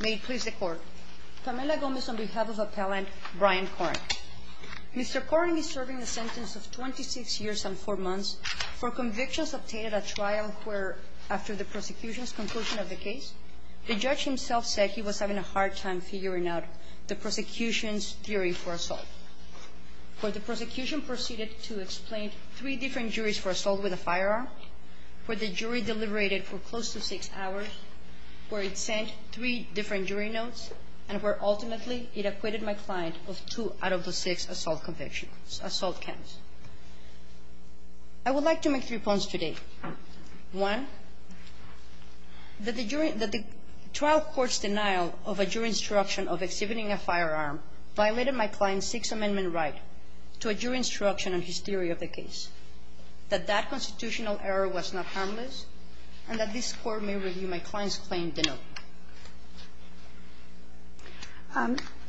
May it please the court. Camila Gomez on behalf of appellant Brian Koering. Mr. Koering is serving a sentence of 26 years and four months for convictions obtained at trial where after the prosecution's conclusion of the case the judge himself said he was having a hard time figuring out the prosecution's jury for assault. For the prosecution proceeded to explain three different juries for assault with a firearm where the jury deliberated for close to six hours, where it sent three different jury notes, and where ultimately it acquitted my client of two out of the six assault convictions, assault counts. I would like to make three points today. One, that the jury, that the trial court's denial of a jury instruction of exhibiting a firearm violated my client's Sixth Amendment right to a jury instruction on his theory of the case, that that constitutional error was not harmless, and that this Court may review my client's claim denoted.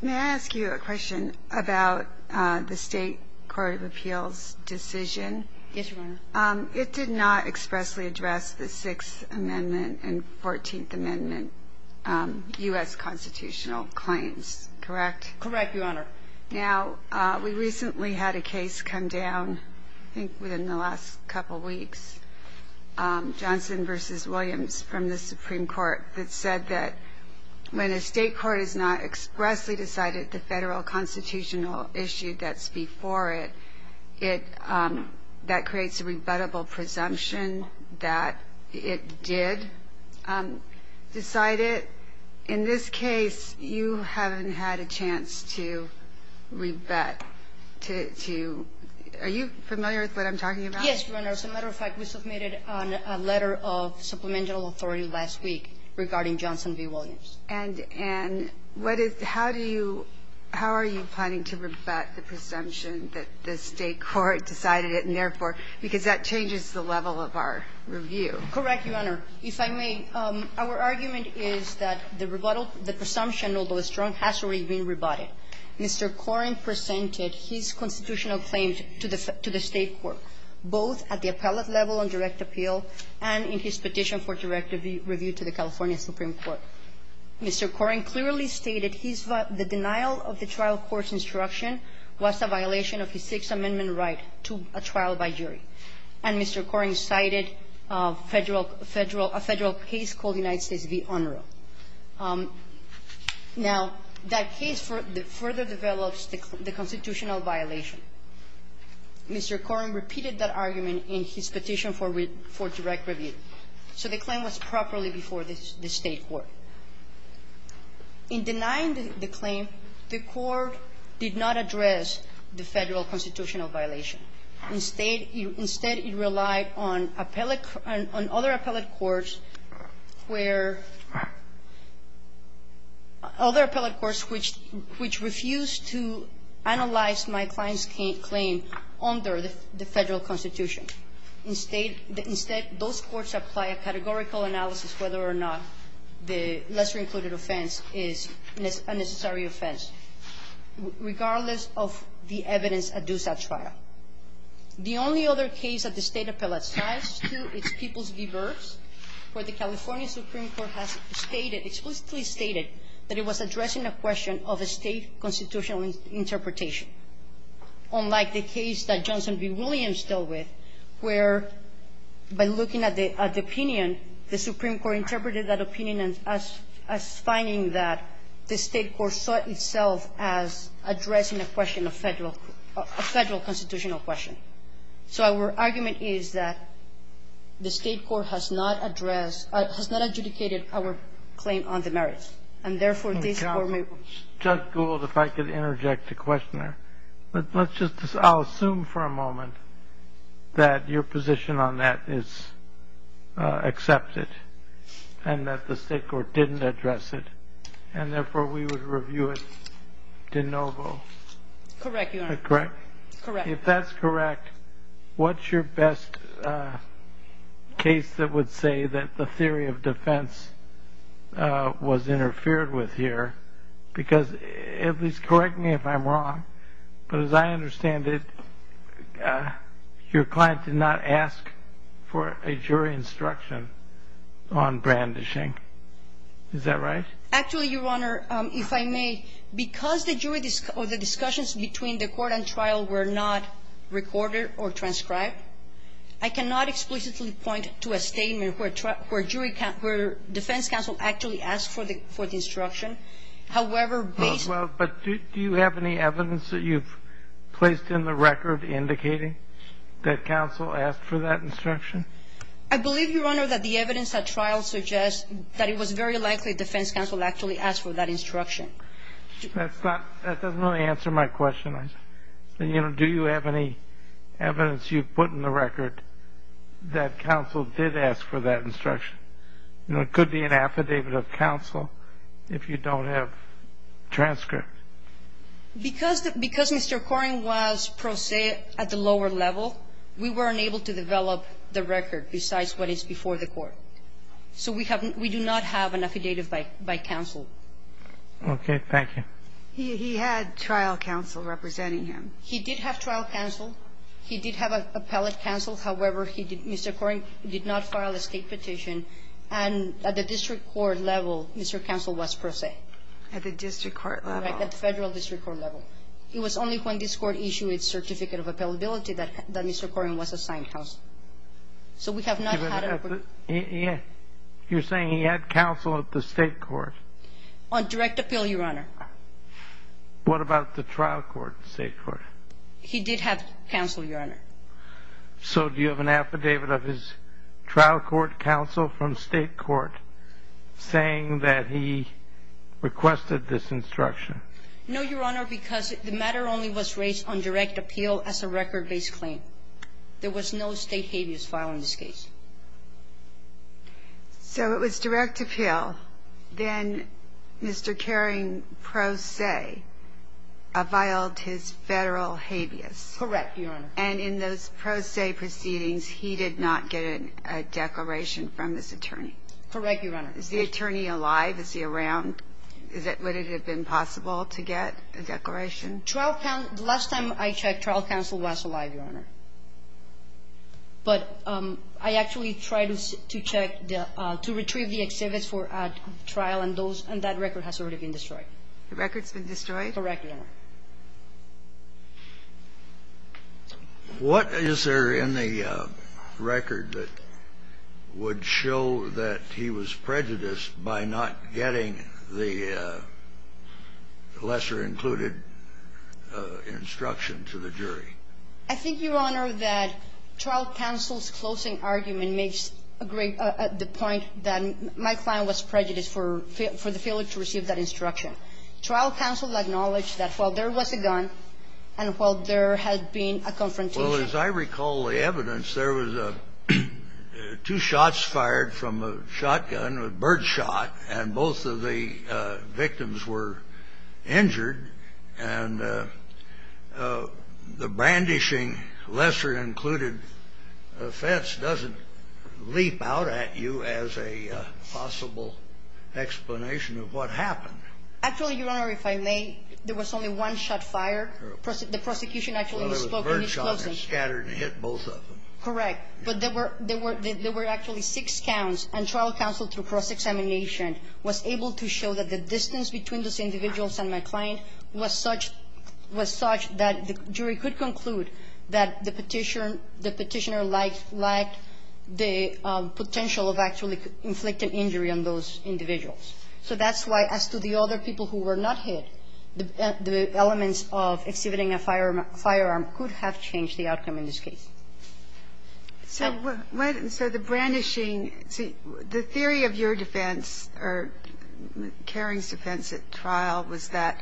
May I ask you a question about the State Court of Appeals decision? Yes, Your Honor. It did not expressly address the Sixth Amendment and Fourteenth Amendment U.S. constitutional claims, correct? Correct, Your Honor. Now, we recently had a case come down, I think within the last couple weeks, Johnson v. Williams from the Supreme Court that said that when a state court has not expressly decided the federal constitutional issue that's before it, that creates a rebuttable presumption that it did decide it. In this case, you haven't had a chance to rebut, to – are you familiar with what I'm talking about? Yes, Your Honor. As a matter of fact, we submitted a letter of supplemental authority last week regarding Johnson v. Williams. And what is – how do you – how are you planning to rebut the presumption that the state court decided it, and therefore – because that changes the level of our review. Correct, Your Honor. If I may, our argument is that the presumption, although strong, has already been rebutted. Mr. Koreng presented his constitutional claims to the state court, both at the appellate level on direct appeal and in his petition for direct review to the California Supreme Court. Mr. Koreng clearly stated his – the denial of the trial court's instruction was a violation of the Sixth Amendment right to a trial by jury. And Mr. Koreng cited a federal – a federal case called United States v. UNRUH. Now, that case further develops the constitutional violation. Mr. Koreng repeated that argument in his petition for – for direct review. So the claim was properly before the state court. In denying the claim, the court did not address the federal constitutional violation. Instead, it relied on appellate – on other appellate courts where – other appellate courts which – which refused to analyze my client's claim under the federal constitution. Instead – instead, those courts apply a categorical analysis whether or not the lesser-included offense is a necessary offense, regardless of the evidence adduced at trial. The only other case that the State appellate cites, too, is Peoples v. Burks, where the California Supreme Court has stated – explicitly stated that it was addressing a question of a State constitutional interpretation, unlike the case that Johnson v. Williams dealt with, where, by looking at the – at the opinion, the Supreme Court interpreted that opinion as – as finding that the State court saw itself as a constitutional question. So our argument is that the State court has not addressed – has not adjudicated our claim on the merits. And, therefore, this court may – Justice Gold, if I could interject a question there. Let's just – I'll assume for a moment that your position on that is accepted, and that the State court didn't address it, and, therefore, we would review it de novo. Correct, Your Honor. Correct? Correct. If that's correct, what's your best case that would say that the theory of defense was interfered with here? Because – at least correct me if I'm wrong, but as I understand it, your client did not ask for a jury instruction on brandishing. Is that right? Actually, Your Honor, if I may, because the jury – or the discussions between the court and trial were not recorded or transcribed, I cannot explicitly point to a statement where jury – where defense counsel actually asked for the instruction. However, based on – Well, but do you have any evidence that you've placed in the record indicating that counsel asked for that instruction? I believe, Your Honor, that the evidence at trial suggests that it was very likely defense counsel actually asked for that instruction. That's not – that doesn't really answer my question. And, you know, do you have any evidence you've put in the record that counsel did ask for that instruction? You know, it could be an affidavit of counsel if you don't have transcript. Because – because Mr. Koren was pro se at the lower level, we weren't able to develop the record besides what is before the court. So we have – we do not have an affidavit by counsel. Okay. Thank you. He – he had trial counsel representing him. He did have trial counsel. He did have appellate counsel. However, he did – Mr. Koren did not file a state petition. And at the district court level, Mr. Counsel was pro se. At the district court level. Right. At the federal district court level. It was only when this court issued certificate of appellability that – that Mr. Koren was assigned counsel. So we have not had a – You're saying he had counsel at the state court. On direct appeal, Your Honor. What about the trial court, state court? He did have counsel, Your Honor. So do you have an affidavit of his trial court counsel from state court saying that he requested this instruction? No, Your Honor, because the matter only was raised on direct appeal as a record based claim. There was no state habeas file in this case. So it was direct appeal. Then Mr. Koren, pro se, filed his federal habeas. Correct, Your Honor. And in those pro se proceedings, he did not get a declaration from this attorney. Correct, Your Honor. Is the attorney alive? Is he around? Is it – would it have been possible to get a declaration? The last time I checked, trial counsel was alive, Your Honor. But I actually tried to check the – to retrieve the exhibits for trial and those – and that record has already been destroyed. The record's been destroyed? Correct, Your Honor. What is there in the record that would show that he was prejudiced by not getting the lesser included instruction to the jury? I think, Your Honor, that trial counsel's closing argument makes a great – the point that my client was prejudiced for the failure to receive that instruction. Trial counsel acknowledged that while there was a gun and while there had been a confrontation – Well, as I recall the evidence, there was two shots fired from a shotgun, a bird shot. Correct. And the victims were injured and the brandishing lesser included offense doesn't leap out at you as a possible explanation of what happened. Actually, Your Honor, if I may, there was only one shot fired. The prosecution actually spoke in his closing. Well, there was a bird shot that scattered and hit both of them. Correct. But there were – there were actually six counts and trial counsel through cross-examination was able to show that the distance between those individuals and my client was such that the jury could conclude that the petitioner lacked the potential of actually inflicting injury on those individuals. So that's why, as to the other people who were not hit, the elements of exhibiting a firearm could have changed the outcome in this case. So the brandishing – see, the theory of your defense or Kering's defense at trial was that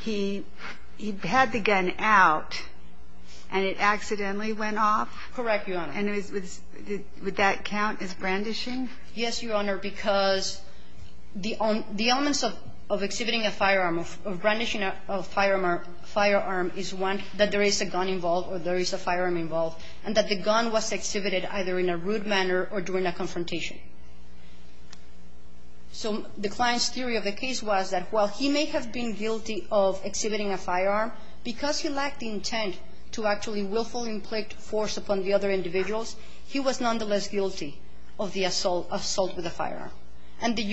he had the gun out and it accidentally went off? Correct, Your Honor. And would that count as brandishing? Yes, Your Honor, because the elements of exhibiting a firearm, of brandishing a firearm, is one, that there is a gun involved or there is a firearm involved and that the gun was exhibited either in a rude manner or during a confrontation. So the client's theory of the case was that while he may have been guilty of exhibiting a firearm, because he lacked the intent to actually willfully inflict force upon the other individuals, he was nonetheless guilty of the assault with a firearm. And the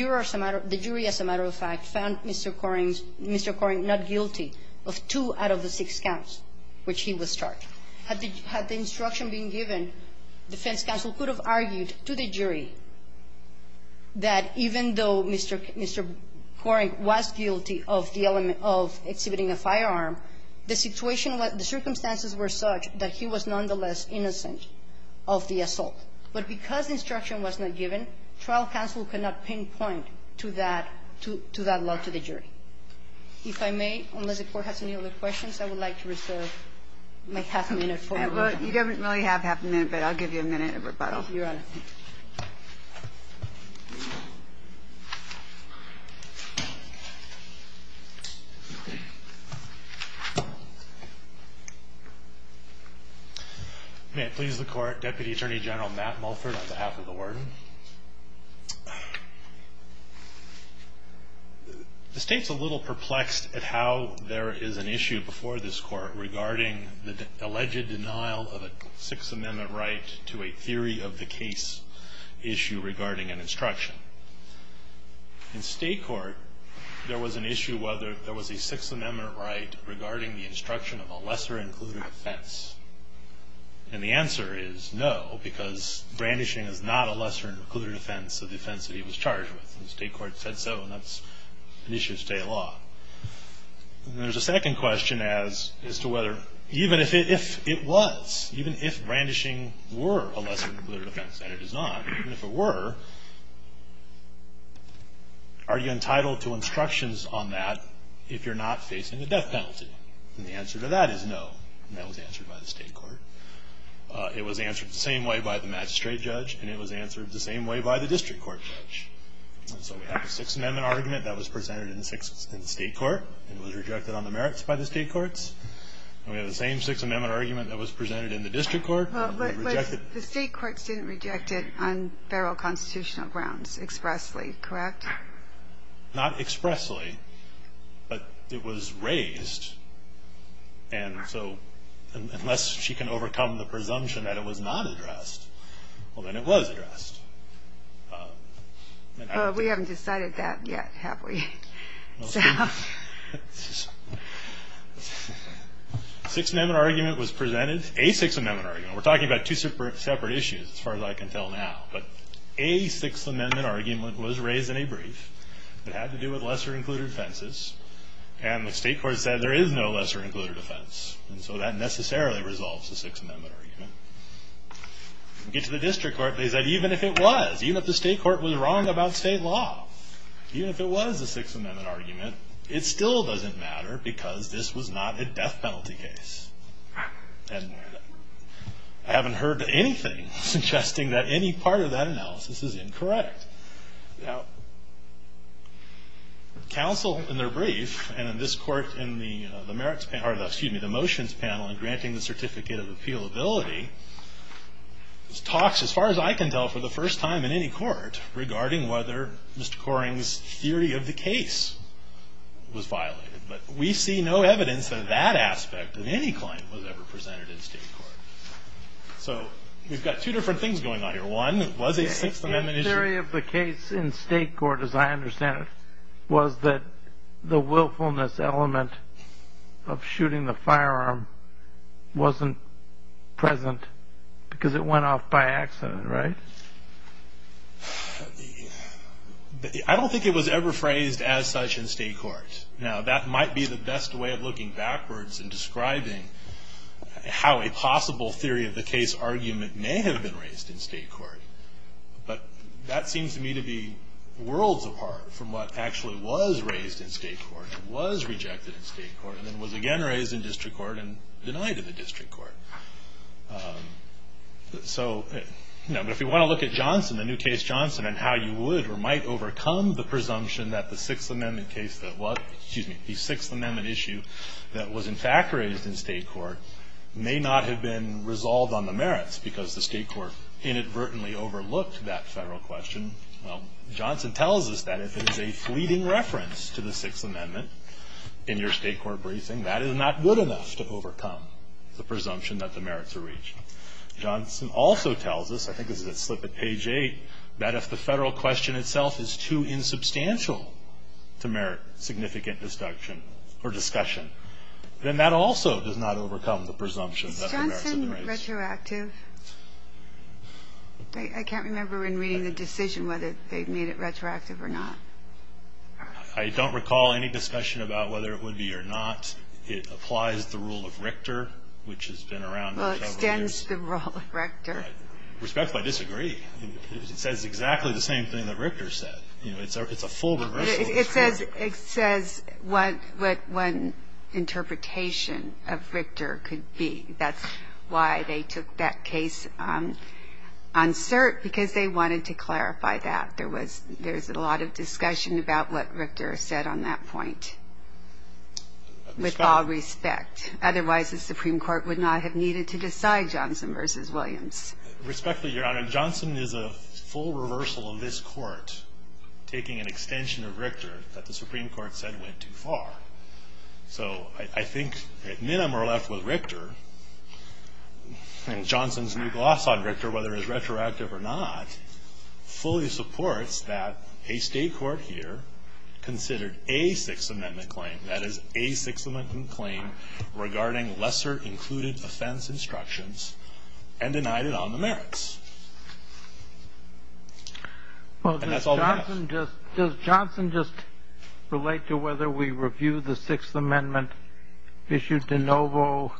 of two out of the six counts which he was charged. Had the instruction been given, defense counsel could have argued to the jury that even though Mr. Kering was guilty of the element of exhibiting a firearm, the situation was – the circumstances were such that he was nonetheless innocent of the assault. But because instruction was not given, trial counsel could not pinpoint to that – to that law to the jury. If I may, unless the Court has any other questions, I would like to reserve my half a minute. You don't really have half a minute, but I'll give you a minute of rebuttal. Your Honor. May it please the Court, Deputy Attorney General Matt Mulford on behalf of the warden. The State's a little perplexed at how there is an issue before this Court regarding the alleged denial of a Sixth Amendment right to a theory of the case issue regarding an instruction. In State court, there was an issue whether there was a Sixth Amendment right regarding the instruction of a lesser-included offense. And the answer is no, because brandishing is not a lesser-included offense of the offense that he was charged with. And the State court said so, and that's an issue of state law. There's a second question as to whether – even if it was, even if brandishing were a lesser-included offense, and it is not, even if it were, are you entitled to instructions on that if you're not facing the death penalty? And the answer to that is no. And that was answered by the State court. It was answered the same way by the magistrate judge, and it was answered the same way by the district court judge. So we have a Sixth Amendment argument that was presented in the State court and was rejected on the merits by the State courts. And we have the same Sixth Amendment argument that was presented in the district court. But the State courts didn't reject it on federal constitutional grounds expressly, correct? Not expressly, but it was raised. And so unless she can overcome the presumption that it was not addressed, well, then it was addressed. We haven't decided that yet, have we? Sixth Amendment argument was presented – a Sixth Amendment argument. We're talking about two separate issues as far as I can tell now. But a Sixth Amendment argument was raised in a brief. It had to do with lesser included offenses. And the State court said there is no lesser included offense. And so that necessarily resolves the Sixth Amendment argument. We get to the district court. They said even if it was, even if the State court was wrong about state law, even if it was a Sixth Amendment argument, it still doesn't matter because this was not a death penalty case. I haven't heard anything suggesting that any part of that analysis is incorrect. Counsel, in their brief, and in this court in the motions panel in granting the certificate of appealability, talks, as far as I can tell, for the first time in any court regarding whether Mr. Coring's theory of the case was violated. But we see no evidence that that aspect of any claim was ever presented in State court. So we've got two different things going on here. One, was a Sixth Amendment issue... The theory of the case in State court, as I understand it, was that the willfulness element of shooting the firearm wasn't present because it went off by accident, right? I don't think it was ever phrased as such in State court. Now that might be the best way of looking backwards and describing how a possible theory of the case argument may have been raised in State court. But that seems to me to be worlds apart from what actually was raised in State court, was rejected in State court, and then was again raised in District court and denied in the District court. So, you know, but if you want to look at Johnson, the new case Johnson, and how you would or might overcome the presumption that the Sixth Amendment case that was, excuse me, the Sixth Amendment issue that was in fact raised in State court may not have been resolved on the merits because the State court inadvertently overlooked that Federal question. Well, Johnson tells us that if it is a fleeting reference to the Sixth Amendment in your State court briefing, that is not good enough to overcome the presumption that the merits are reached. Johnson also tells us, I think this is a slip at page 8, that if the Federal question itself is too insubstantial to merit significant discussion, then that also does not overcome the presumption that the merits are reached. Is Johnson retroactive? I can't remember in reading the decision whether they made it retroactive or not. I don't recall any discussion about whether it would be or not. It applies the rule of Richter, which has been around for several years. Well, it extends the rule of Richter. Respectfully disagree. It says exactly the same thing that Richter said. It's a full reversal. It says what one interpretation of Richter could be. That's why they took that case on cert, because they wanted to clarify that. There was – there's a lot of discussion about what Richter said on that point, with all respect. Otherwise, the Supreme Court would not have needed to decide Johnson v. Williams. Respectfully, Your Honor, Johnson is a full reversal of this Court, taking an extension of Richter that the Supreme Court said went too far. So I think, at minimum, we're left with Richter, and Johnson's new gloss on Richter, whether it's retroactive or not, fully supports that a state court here considered a Sixth Amendment claim, that is, a Sixth Amendment claim regarding lesser included And that's all we have. Well, does Johnson just relate to whether we review the Sixth Amendment issued de novo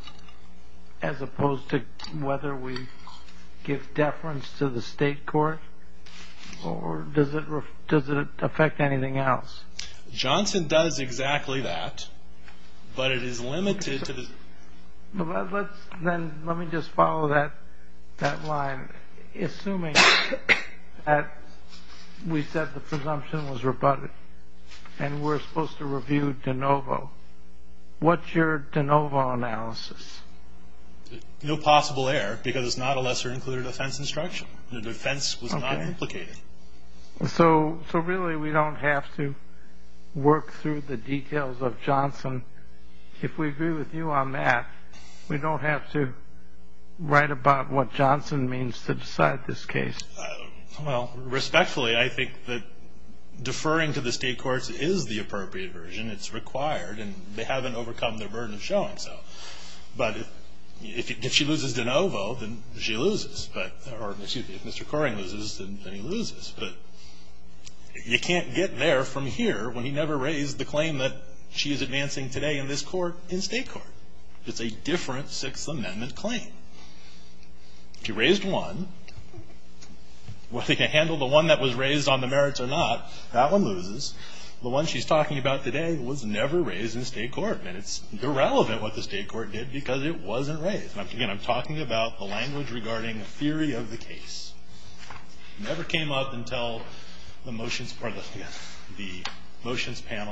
as opposed to whether we give deference to the state court? Or does it affect anything else? Johnson does exactly that, but it is limited to the – Then let me just follow that line. Assuming that we said the presumption was rebutted, and we're supposed to review de novo, what's your de novo analysis? No possible error, because it's not a lesser included offense instruction. The defense was not implicated. So really, we don't have to work through the details of Johnson. If we agree with you on that, we don't have to write about what Johnson means to decide this case. Well, respectfully, I think that deferring to the state courts is the appropriate version. It's required, and they haven't overcome the burden of showing so. But if she loses de novo, then she loses. Or, excuse me, if Mr. Coring loses, then he loses. But you can't get there from here when he never raised the claim that she is advancing today in this court in state court. It's a different Sixth Amendment claim. If he raised one, whether he can handle the one that was raised on the merits or not, that one loses. The one she's talking about today was never raised in state court. And it's irrelevant what the state court did, because it wasn't raised. And again, I'm talking about the language regarding a theory of the case. It never came up until the motions panel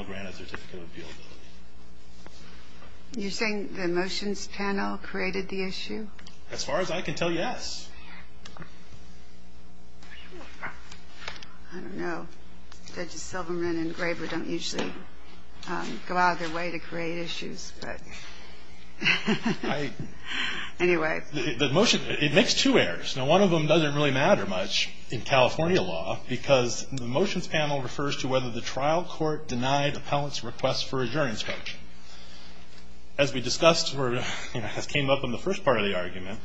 granted certificate of appeal. You're saying the motions panel created the issue? As far as I can tell, yes. I don't know. Judge Silverman and Graber don't usually go out of their way to create issues. But anyway. It makes two errors. Now, one of them doesn't really matter much in California law, because the motions panel refers to whether the trial court denied appellant's request for adjournance. As we discussed, as came up in the first part of the argument,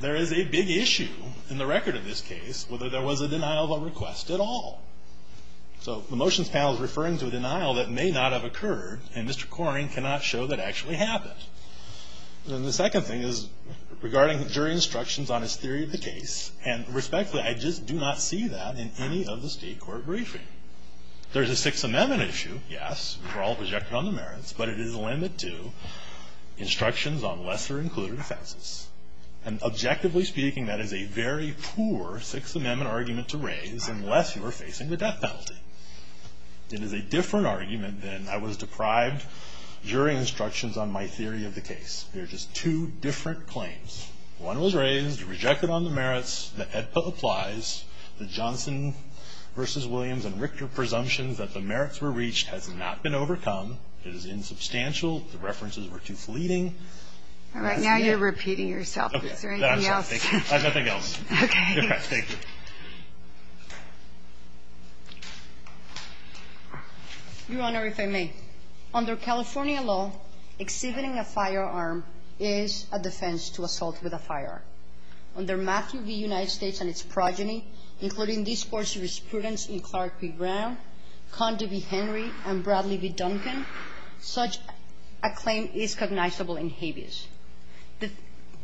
there is a big issue in the record of this case whether there was a denial of a request at all. So the motions panel is referring to a denial that may not have occurred, and Mr. Coring cannot show that actually happened. And the second thing is regarding jury instructions on his theory of the case. And respectfully, I just do not see that in any of the state court briefing. There's a Sixth Amendment issue, yes. We're all projected on the merits. But it is limited to instructions on lesser included offenses. And objectively speaking, that is a very poor Sixth Amendment argument to raise, unless you are facing the death penalty. It is a different argument than I was deprived jury instructions on my theory of the case. There are just two different claims. One was raised, rejected on the merits. The AEDPA applies. The Johnson v. Williams and Richter presumptions that the merits were reached has not been overcome. It is insubstantial. The references were too fleeting. All right. Now you're repeating yourself. Is there anything else? Nothing else. Okay. Thank you. Your Honor, if I may. Under California law, exhibiting a firearm is a defense to assault with a firearm. Under Matthew v. United States and its progeny, including these four jurisprudence in Clark v. Brown, Condi v. Henry, and Bradley v. Duncan, such a claim is cognizable in habeas.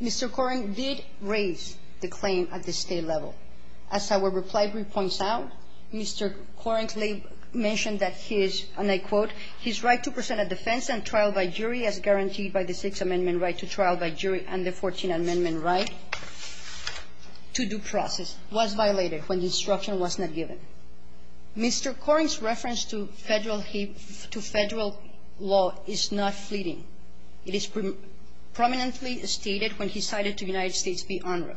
Mr. Koren did raise the claim at the state level. As our reply brief points out, Mr. Koren mentioned that his, and I quote, Mr. Koren's reference to Federal law is not fleeting. It is prominently stated when he cited to United States v. UNRRA,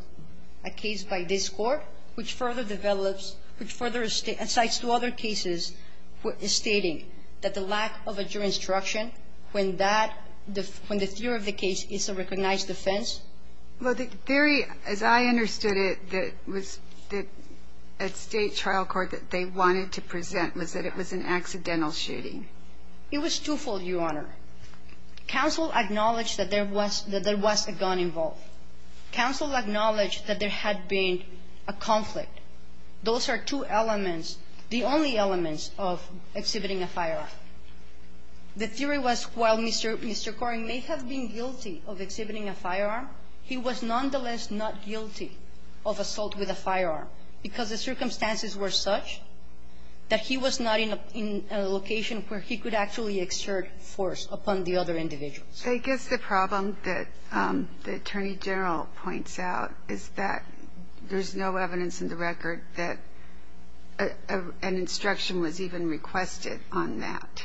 a case by this Court, which further develops, which further cites two other cases stating that the case is a recognized defense. Well, the theory, as I understood it, that was at state trial court that they wanted to present was that it was an accidental shooting. It was twofold, Your Honor. Counsel acknowledged that there was a gun involved. Counsel acknowledged that there had been a conflict. Those are two elements, the only elements of exhibiting a firearm. The theory was while Mr. Koren may have been guilty of exhibiting a firearm, he was nonetheless not guilty of assault with a firearm because the circumstances were such that he was not in a location where he could actually exert force upon the other individuals. So I guess the problem that the Attorney General points out is that there's no evidence in the record that an instruction was even requested on that.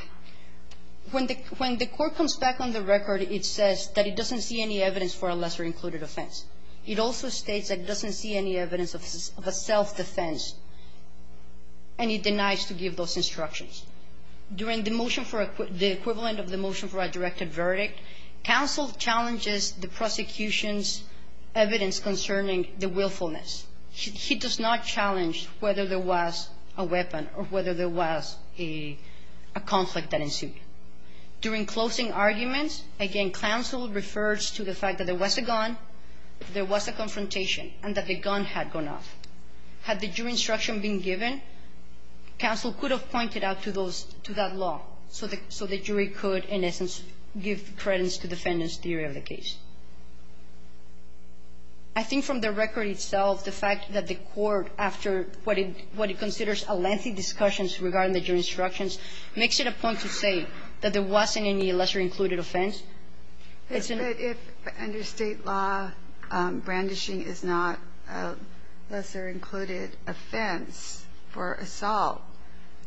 When the Court comes back on the record, it says that it doesn't see any evidence for a lesser-included offense. It also states that it doesn't see any evidence of a self-defense, and it denies to give those instructions. During the motion for the equivalent of the motion for a directed verdict, counsel challenges the prosecution's evidence concerning the willfulness. He does not challenge whether there was a weapon or whether there was a conflict that ensued. During closing arguments, again, counsel refers to the fact that there was a gun, there was a confrontation, and that the gun had gone off. Had the jury instruction been given, counsel could have pointed out to those to that law so the jury could, in essence, give credence to defendant's theory of the case. I think from the record itself, the fact that the Court, after what it considers a lengthy discussion regarding the jury instructions, makes it a point to say that there wasn't any lesser-included offense. It's an ---- But if under State law, brandishing is not a lesser-included offense for assault,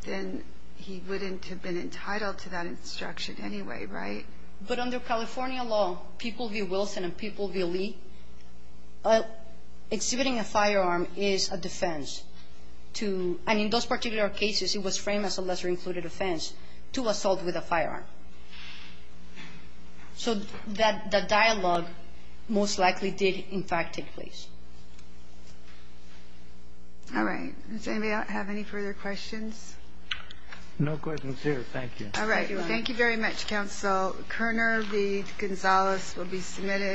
then he wouldn't have been entitled to that instruction anyway, right? But under California law, people v. Wilson and people v. Lee, exhibiting a firearm is a defense to ---- and in those particular cases, it was framed as a lesser-included offense to assault with a firearm. So that dialogue most likely did, in fact, take place. All right. Does anybody have any further questions? No questions here. Thank you. All right. Thank you very much, counsel. Kerner v. Gonzales will be submitted.